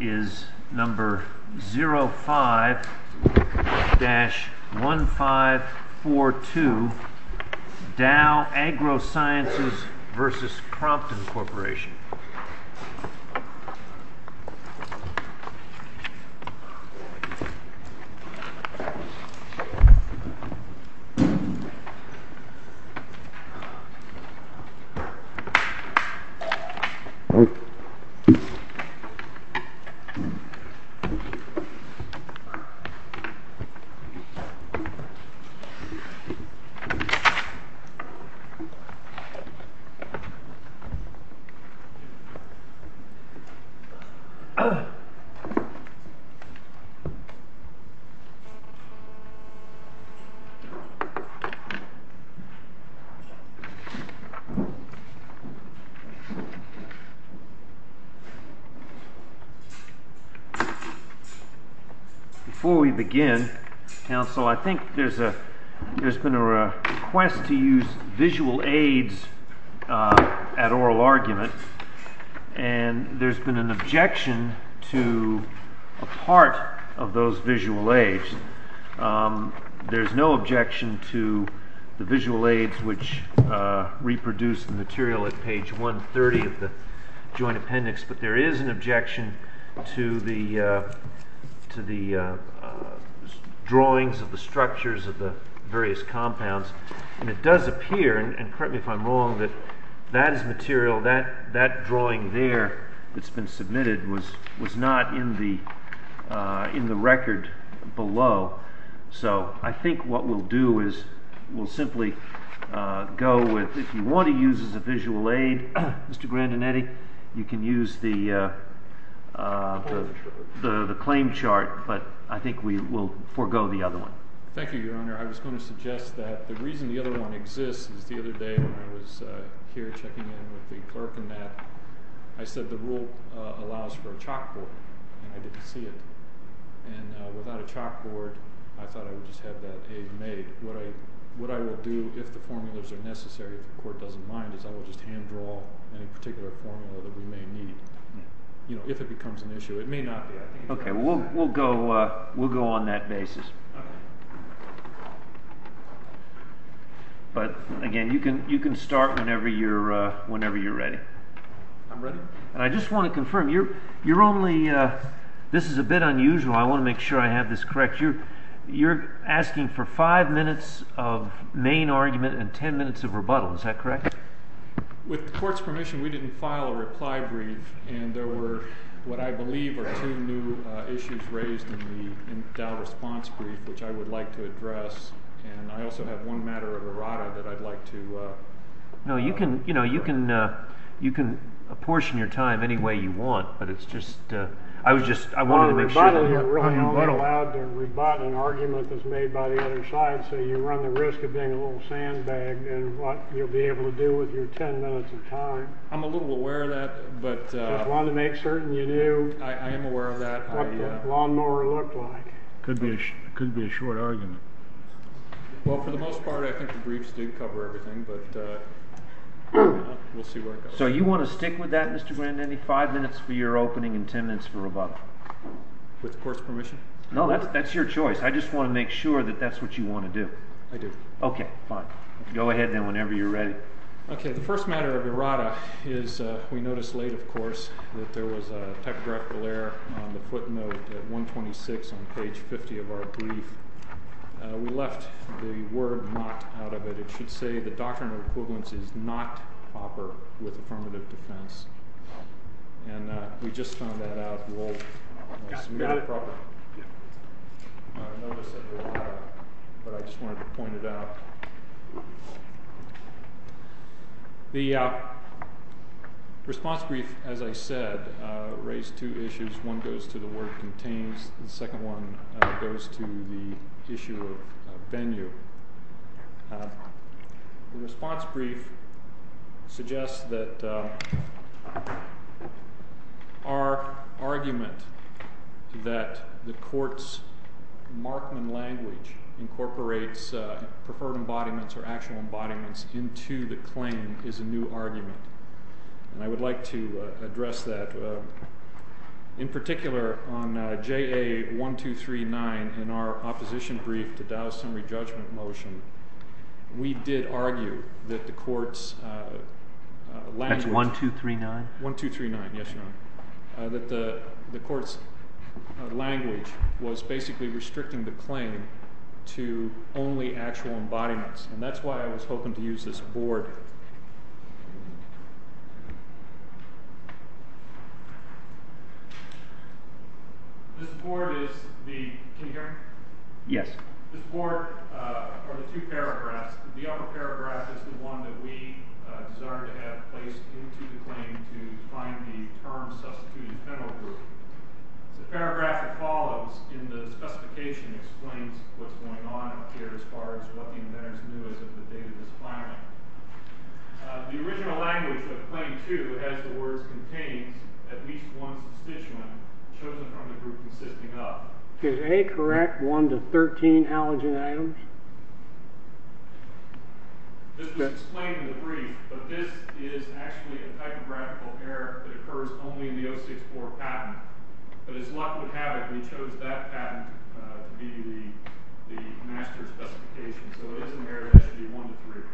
is number 05-1542 Dow Agrosciences v. Crompton Corp. Dow Agrosciences v. Crompton Corp. Before we begin, counsel, I think there's been a request to use visual aids at oral argument and there's been an objection to a part of those visual aids. There's no objection to the visual aids which reproduce the material at page 130 of the joint appendix, but there is an objection to the drawings of the structures of the various compounds. And it does appear, and correct me if I'm wrong, that that is material, that drawing there that's been submitted was not in the record below. So I think what we'll do is we'll simply go with, if you want to use it as a visual aid, Mr. Grandinetti, you can use the claim chart, but I think we will forego the other one. Thank you, Your Honor. I was going to suggest that the reason the other one exists is the other day when I was here checking in with the clerk and that, I said the rule allows for a chalkboard, and I didn't see it. And without a chalkboard, I thought I would just have that aid made. What I will do, if the formulas are necessary, if the court doesn't mind, is I will just hand draw any particular formula that we may need. You know, if it becomes an issue. It may not be. Okay, we'll go on that basis. But, again, you can start whenever you're ready. I'm ready. And I just want to confirm, you're only, this is a bit unusual, I want to make sure I have this correct, you're asking for five minutes of main argument and ten minutes of rebuttal, is that correct? With the court's permission, we didn't file a reply brief, and there were, what I believe, are two new issues raised in the response brief, which I would like to address. And I also have one matter of errata that I'd like to address. No, you can, you know, you can apportion your time any way you want, but it's just, I was just, I wanted to make sure. You're only allowed to rebut an argument that's made by the other side, so you run the risk of being a little sandbag in what you'll be able to do with your ten minutes of time. I'm a little aware of that, but. Just wanted to make certain you knew. I am aware of that. What the lawnmower looked like. Could be a short argument. Well, for the most part, I think the briefs did cover everything, but we'll see where it goes. So you want to stick with that, Mr. Grandin? Five minutes for your opening and ten minutes for rebuttal. With court's permission? No, that's your choice. I just want to make sure that that's what you want to do. I do. Okay, fine. Go ahead, then, whenever you're ready. Okay, the first matter of errata is, we noticed late, of course, that there was a tepid referral error on the footnote at 126 on page 50 of our brief. We left the word not out of it. It should say the doctrine of equivalence is not proper with affirmative defense. And we just found that out. We'll submit it properly. But I just wanted to point it out. The response brief, as I said, raised two issues. One goes to the word contains. The second one goes to the issue of venue. The response brief suggests that our argument that the court's Markman language incorporates preferred embodiments or actual embodiments into the claim is a new argument. And I would like to address that. In particular, on JA1239 in our opposition brief to Dallas summary judgment motion, we did argue that the court's language. That's 1239? 1239, yes, Your Honor. That the court's language was basically restricting the claim to only actual embodiments. And that's why I was hoping to use this board. This board is the, can you hear me? Yes. This board are the two paragraphs. The upper paragraph is the one that we desire to have placed into the claim to find the term substituted federal group. The paragraph that follows in the specification explains what's going on up here as far as what the inventors knew as of the date of this filing. The original language of claim two has the words contains at least one substituent chosen from the group consisting of. Is A correct? One to 13 allergen items? This was explained in the brief, but this is actually a typographical error that occurs only in the 064 patent. But as luck would have it, we chose that patent to be the master specification. So it is an error that should be one to three.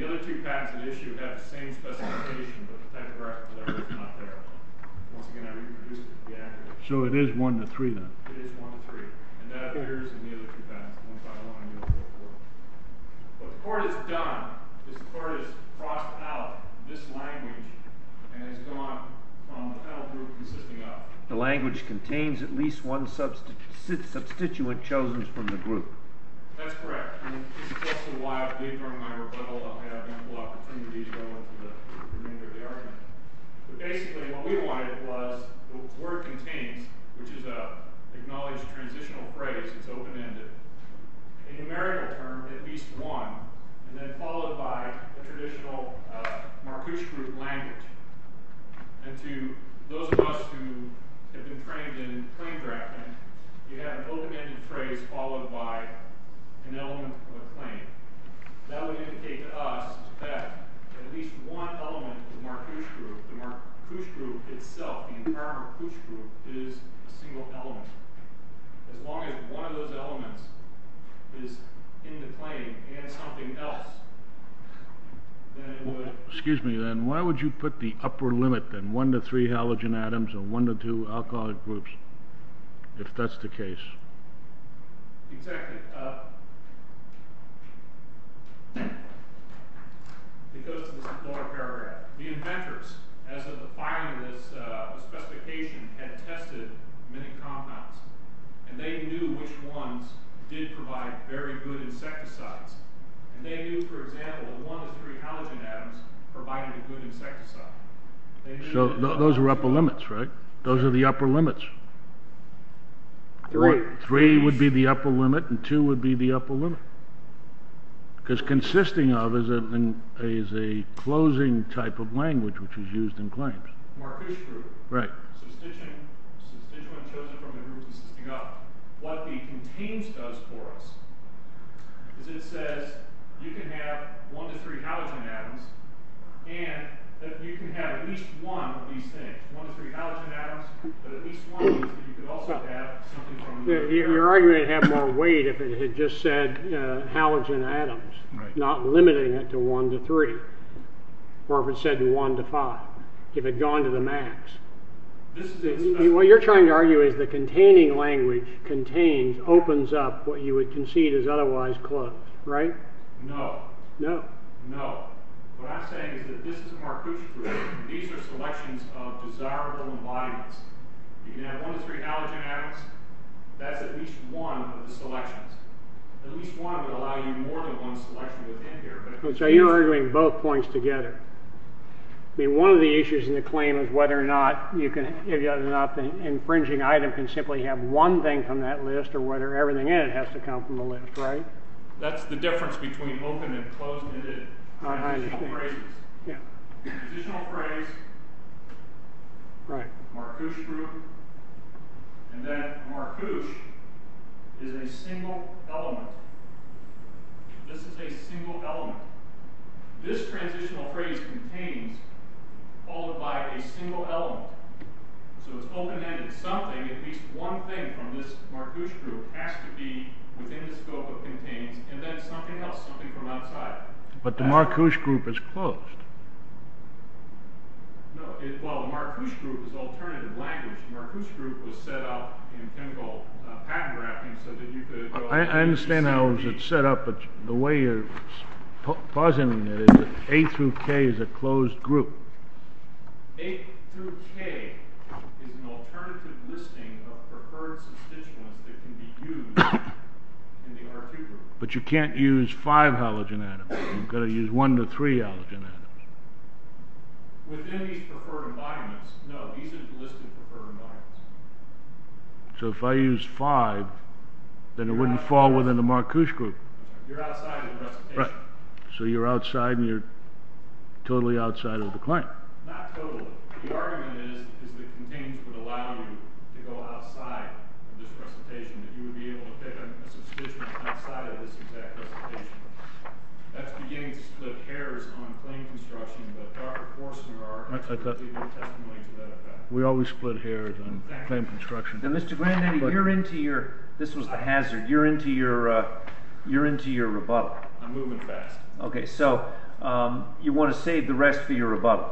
The other two patents that issue have the same specification, but the paragraph that I wrote is not there. Once again, I reproduced it to be accurate. So it is one to three, then? It is one to three. And that appears in the other two patents. What the court has done is the court has crossed out this language and has gone from the federal group consisting of. The language contains at least one substituent chosen from the group. That's correct. And this is also why I believe during my rebuttal I'll have ample opportunity to go into the remainder of the argument. But basically what we wanted was the word contains, which is an acknowledged transitional phrase. It's open-ended. A numerical term, at least one, and then followed by a traditional Marcuse group language. And to those of us who have been trained in claim drafting, you have an open-ended phrase followed by an element of a claim. That would indicate to us that at least one element of the Marcuse group, the Marcuse group itself, the entire Marcuse group, is a single element. As long as one of those elements is in the claim and something else, then it would. Excuse me, then. Why would you put the upper limit, then, one to three halogen atoms or one to two alcoholic groups, if that's the case? Exactly. It goes to this important area. The inventors, as of the filing of this specification, had tested many compounds. And they knew which ones did provide very good insecticides. And they knew, for example, one to three halogen atoms provided a good insecticide. So those are upper limits, right? Those are the upper limits. Three would be the upper limit, and two would be the upper limit. Because consisting of is a closing type of language which is used in claims. Marcuse group. Right. Substituent chosen from a group consisting of. What the contains does for us is it says you can have one to three halogen atoms, and that you can have at least one of these things, one to three halogen atoms, but at least one means that you could also have something from the other. You're arguing it'd have more weight if it had just said halogen atoms, not limiting it to one to three. Or if it said one to five. If it'd gone to the max. What you're trying to argue is the containing language contains, opens up what you would concede is otherwise closed, right? No. No? No. What I'm saying is that this is a Marcuse group. These are selections of desirable embodiments. You can have one to three halogen atoms. That's at least one of the selections. At least one would allow you more than one selection within here. So you're arguing both points together. One of the issues in the claim is whether or not the infringing item can simply have one thing from that list, or whether everything in it has to come from the list, right? That's the difference between open and closed-ended transitional phrases. Transitional phrase, Marcuse group, and then Marcuse is a single element. This is a single element. This transitional phrase contains all but a single element. So it's open-ended. Something, at least one thing from this Marcuse group has to be within the scope of contains, and then something else, something from outside. But the Marcuse group is closed. No. Well, the Marcuse group is alternative language. The Marcuse group was set up in chemical patent-wrapping so that you could... I understand how it was set up, but the way you're positing it is that A through K is a closed group. A through K is an alternative listing of preferred substituents that can be used in the R2 group. But you can't use five halogen atoms. You've got to use one to three halogen atoms. Within these preferred environments. No, these are listed preferred environments. So if I use five, then it wouldn't fall within the Marcuse group. You're outside of the recitation. Right. So you're outside, and you're totally outside of the claim. Not totally. The argument is that contains would allow you to go outside of this recitation, that you would be able to pick a substituent outside of this exact recitation. That's beginning to split hairs on claim construction, I thought we always split hairs on claim construction. Now, Mr. Grandaddy, you're into your... this was the hazard. You're into your rebuttal. I'm moving fast. Okay, so you want to save the rest for your rebuttal.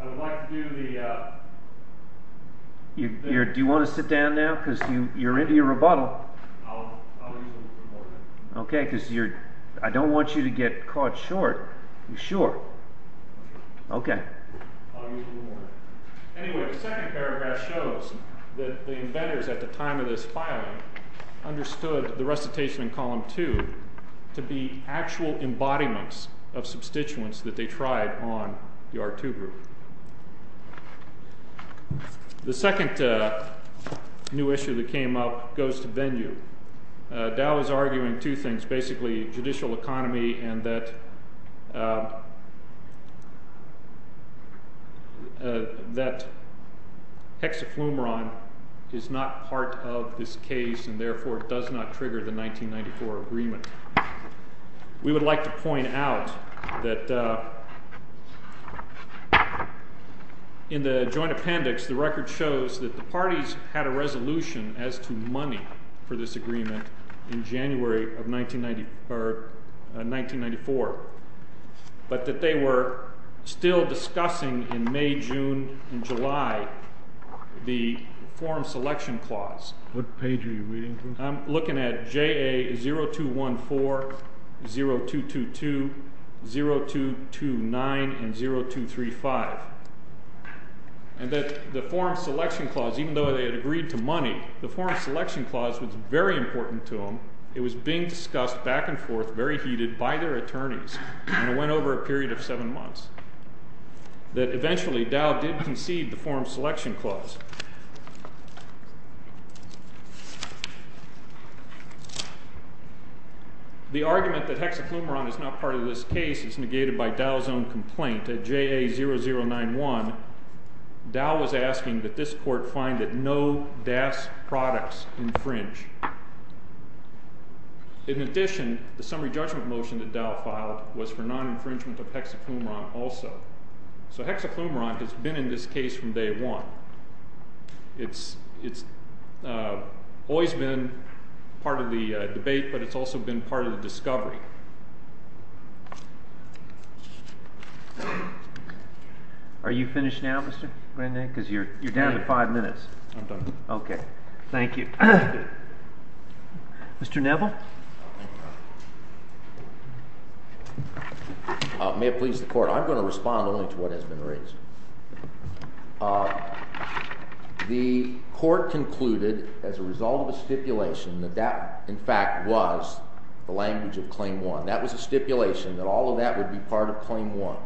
I would like to do the... Do you want to sit down now? Because you're into your rebuttal. I'll use a little bit more time. Okay, because I don't want you to get caught short. You sure? Okay. I'll use a little more. Anyway, the second paragraph shows that the inventors at the time of this filing understood the recitation in column two to be actual embodiments of substituents that they tried on the R2 group. The second new issue that came up goes to venue. Dow is arguing two things, basically judicial economy and that hexafluoride is not part of this case and therefore does not trigger the 1994 agreement. We would like to point out that in the joint appendix, the record shows that the parties had a resolution as to money for this agreement in January of 1994, but that they were still discussing in May, June, and July the form selection clause. What page are you reading from? I'm looking at JA 0214, 0222, 0229, and 0235. And that the form selection clause, even though they had agreed to money, the form selection clause was very important to them. It was being discussed back and forth, very heated, by their attorneys, and it went over a period of seven months. That eventually Dow did concede the form selection clause. The argument that hexafluoride is not part of this case is negated by Dow's own complaint at JA 0091. Dow was asking that this court find that no DAS products infringe. In addition, the summary judgment motion that Dow filed was for non-infringement of hexafluoride also. So hexafluoride has been in this case from day one. It's always been part of the debate, but it's also been part of the discovery. Thank you. Are you finished now, Mr. Grandin? Because you're down to five minutes. I'm done. OK. Thank you. Mr. Neville? May it please the court. I'm going to respond only to what has been raised. The court concluded, as a result of a stipulation, that that, in fact, was the language of Claim 1. That was a stipulation that all of that would be part of Claim 1.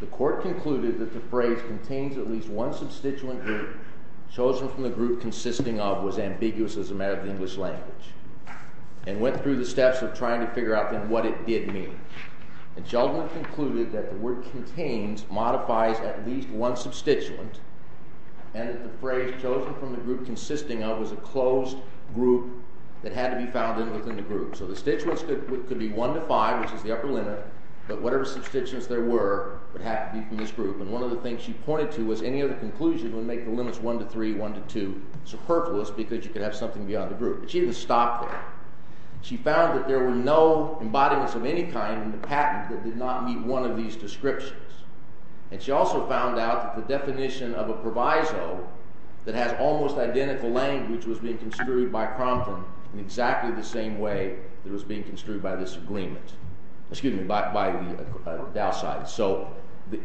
The court concluded that the phrase contains at least one substituent group chosen from the group consisting of was ambiguous as a matter of the English language and went through the steps of trying to figure out then what it did mean. The judgment concluded that the word contains modifies at least one substituent and that the phrase chosen from the group consisting of was a closed group that had to be found within the group. So the substituents could be 1 to 5, which is the upper limit, but whatever substituents there were would have to be from this group. And one of the things she pointed to was any other conclusion would make the limits 1 to 3, 1 to 2 superfluous because you could have something beyond the group. But she didn't stop there. She found that there were no embodiments of any kind in the patent that did not meet one of these descriptions. And she also found out that the definition of a proviso that has almost identical language was being construed by Crompton in exactly the same way that was being construed by this agreement. Excuse me, by the Dow side. So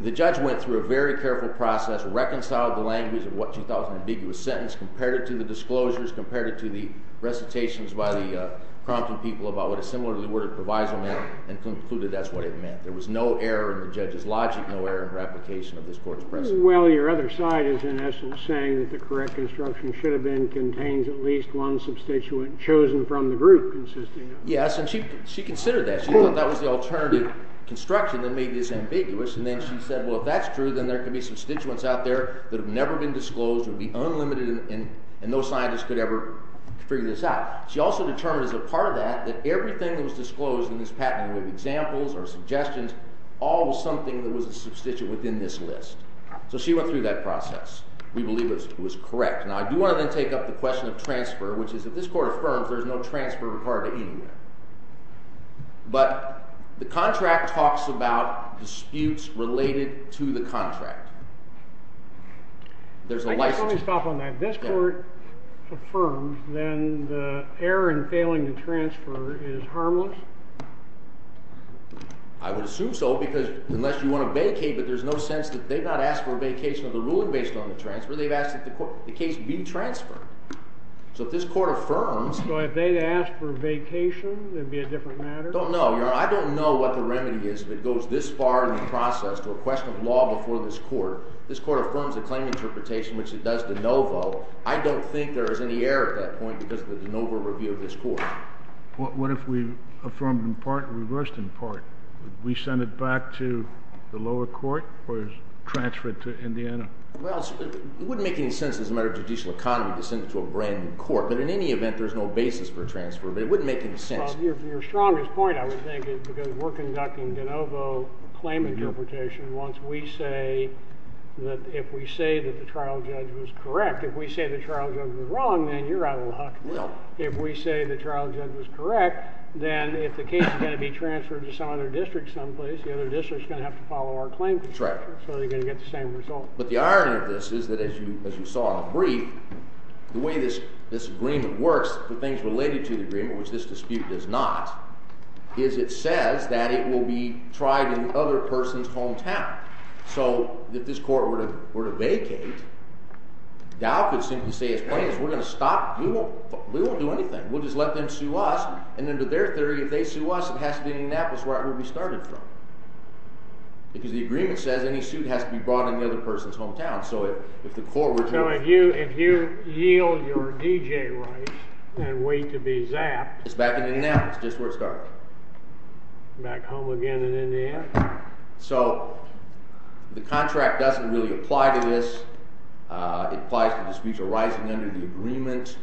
the judge went through a very careful process, reconciled the language of what she thought was an ambiguous sentence, compared it to the disclosures, compared it to the recitations by the Crompton people about what a similar word of proviso meant, and concluded that's what it meant. There was no error in the judge's logic, no error in her application of this court's precedent. Well, your other side is in essence saying that the correct instruction should have been contains at least one substituent chosen from the group. Yes, and she considered that. She thought that was the alternative construction that made this ambiguous. And then she said, well, if that's true, then there could be substituents out there that have never been disclosed and would be unlimited, and no scientist could ever figure this out. She also determined as a part of that that everything that was disclosed in this patent, whether examples or suggestions, all was something that was a substituent within this list. So she went through that process. We believe it was correct. Now, I do want to then take up the question of transfer, which is if this court affirms, there's no transfer required anywhere. But the contract talks about disputes related to the contract. I guess I'll stop on that. If this court affirms, then the error in failing to transfer is harmless? I would assume so, because unless you want to vacate, but there's no sense that they've not asked for a vacation of the ruling based on the transfer. They've asked that the case be transferred. So if this court affirms... So if they ask for a vacation, it would be a different matter? I don't know. I don't know what the remedy is that goes this far in the process to a question of law before this court. If this court affirms a claim interpretation, which it does de novo, I don't think there is any error at that point because of the de novo review of this court. What if we affirmed in part and reversed in part? Would we send it back to the lower court or transfer it to Indiana? Well, it wouldn't make any sense as a matter of judicial economy to send it to a brand new court. But in any event, there's no basis for transfer. But it wouldn't make any sense. Your strongest point, I would think, is because we're conducting de novo claim interpretation once we say that if we say that the trial judge was correct, if we say the trial judge was wrong, then you're out of luck. If we say the trial judge was correct, then if the case is going to be transferred to some other district someplace, the other district is going to have to follow our claim. So they're going to get the same result. But the irony of this is that, as you saw in the brief, the way this agreement works, the things related to the agreement, which this dispute does not, is it says that it will be tried in the other person's hometown. So if this court were to vacate, Dow could simply say, we're going to stop. We won't do anything. We'll just let them sue us. And under their theory, if they sue us, it has to be in Indianapolis where it will be started from. Because the agreement says any suit has to be brought in the other person's hometown. So if the court were to— So if you yield your DJ rights and wait to be zapped— It's back in Indianapolis, just where it started. Back home again in Indiana? So the contract doesn't really apply to this. It applies to disputes arising under the agreement.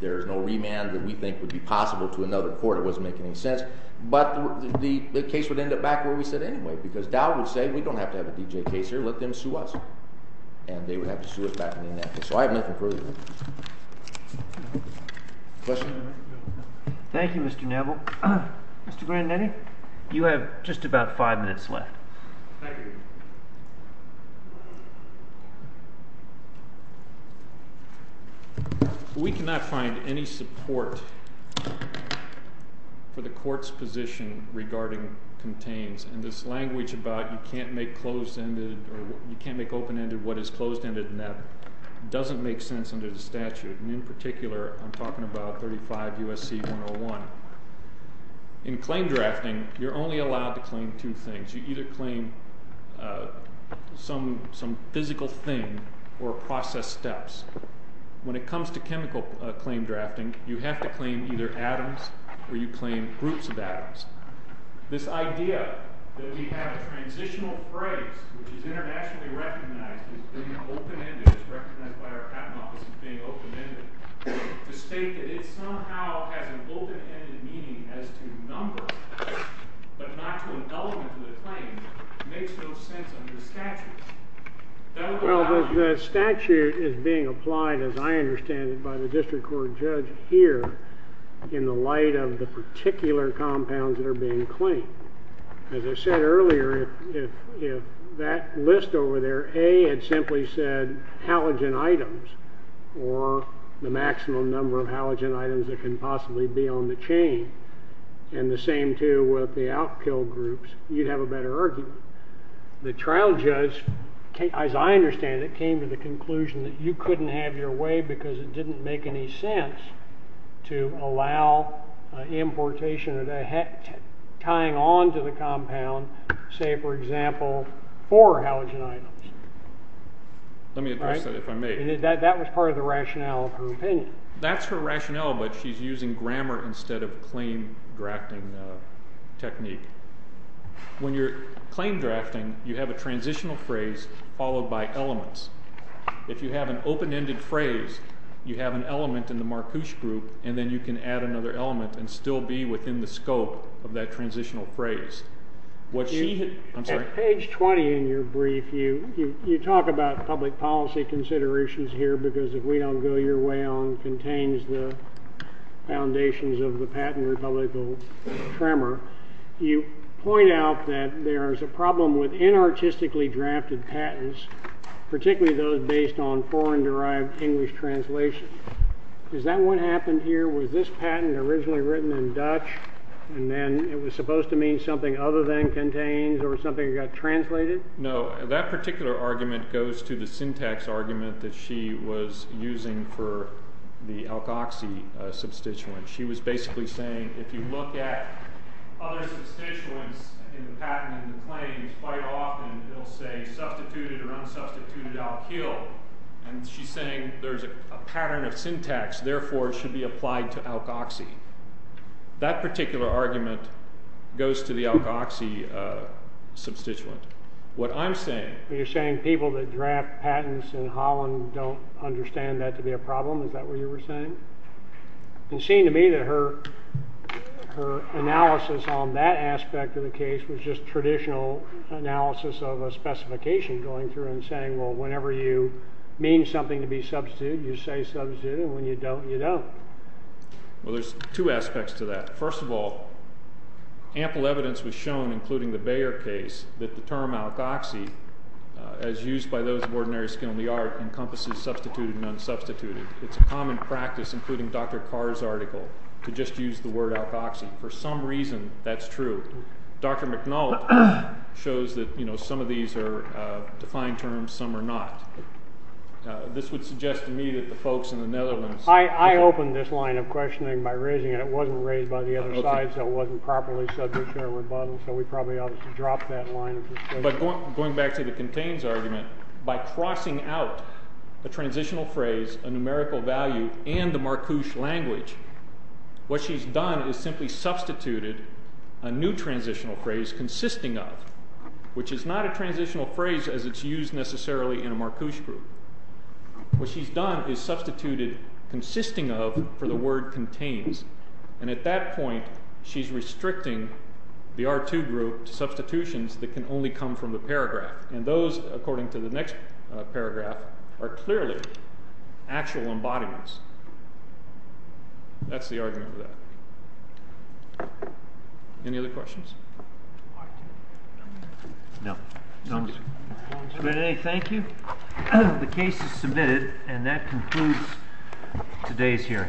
There is no remand that we think would be possible to another court. It wasn't making any sense. But the case would end up back where we said anyway, because Dow would say, we don't have to have a DJ case here. Let them sue us. And they would have to sue us back in Indianapolis. So I have nothing further to say. Questions? Thank you, Mr. Neville. Mr. Grandinetti, you have just about five minutes left. Thank you. We cannot find any support for the court's position regarding contains. And this language about you can't make open-ended what is closed-ended, that doesn't make sense under the statute. And in particular, I'm talking about 35 U.S.C. 101. In claim drafting, you're only allowed to claim two things. You either claim some physical thing or process steps. When it comes to chemical claim drafting, you have to claim either atoms or you claim groups of atoms. This idea that we have a transitional phrase, which is internationally recognized as being open-ended, as represented by our patent office as being open-ended, to state that it somehow has an open-ended meaning as to number, but not to an element of the claim, makes no sense under the statute. Well, the statute is being applied, as I understand it, by the district court judge here in the light of the particular compounds that are being claimed. As I said earlier, if that list over there, A, had simply said halogen items or the maximum number of halogen items that can possibly be on the chain, and the same, too, with the outkill groups, you'd have a better argument. The trial judge, as I understand it, came to the conclusion that you couldn't have your way because it didn't make any sense to allow importation or tying on to the compound, say, for example, four halogen items. Let me address that if I may. That was part of the rationale of her opinion. That's her rationale, but she's using grammar instead of claim-drafting technique. When you're claim-drafting, you have a transitional phrase followed by elements. If you have an open-ended phrase, you have an element in the Marcouche group, and then you can add another element and still be within the scope of that transitional phrase. At page 20 in your brief, you talk about public policy considerations here because if we don't go your way on contains, the foundations of the patent republic will tremor. You point out that there's a problem with inartistically drafted patents, particularly those based on foreign-derived English translation. Is that what happened here? Was this patent originally written in Dutch, and then it was supposed to mean something other than contains or something that got translated? No, that particular argument goes to the syntax argument that she was using for the Alkoxie substituent. She was basically saying if you look at other substituents in the patent and the claims, quite often they'll say substituted or unsubstituted alkyl, and she's saying there's a pattern of syntax, therefore it should be applied to Alkoxie. That particular argument goes to the Alkoxie substituent. What I'm saying... Holland don't understand that to be a problem. Is that what you were saying? It seemed to me that her analysis on that aspect of the case was just traditional analysis of a specification going through and saying, well, whenever you mean something to be substituted, you say substituted, and when you don't, you don't. Well, there's two aspects to that. First of all, ample evidence was shown, including the Bayer case, that the term Alkoxie, as used by those of ordinary skill in the art, encompasses substituted and unsubstituted. It's a common practice, including Dr. Carr's article, to just use the word Alkoxie. For some reason, that's true. Dr. McNulty shows that some of these are defined terms, some are not. This would suggest to me that the folks in the Netherlands... I opened this line of questioning by raising it. It wasn't raised by the other side, so it wasn't properly subject to a rebuttal, so we probably ought to drop that line of discussion. But going back to the contains argument, by crossing out the transitional phrase, a numerical value, and the Marcouche language, what she's done is simply substituted a new transitional phrase, consisting of, which is not a transitional phrase as it's used necessarily in a Marcouche group. What she's done is substituted consisting of for the word contains, and at that point, she's restricting the R2 group to substitutions that can only come from the paragraph, and those, according to the next paragraph, are clearly actual embodiments. That's the argument for that. Any other questions? No. Thank you. The case is submitted, and that concludes today's hearing.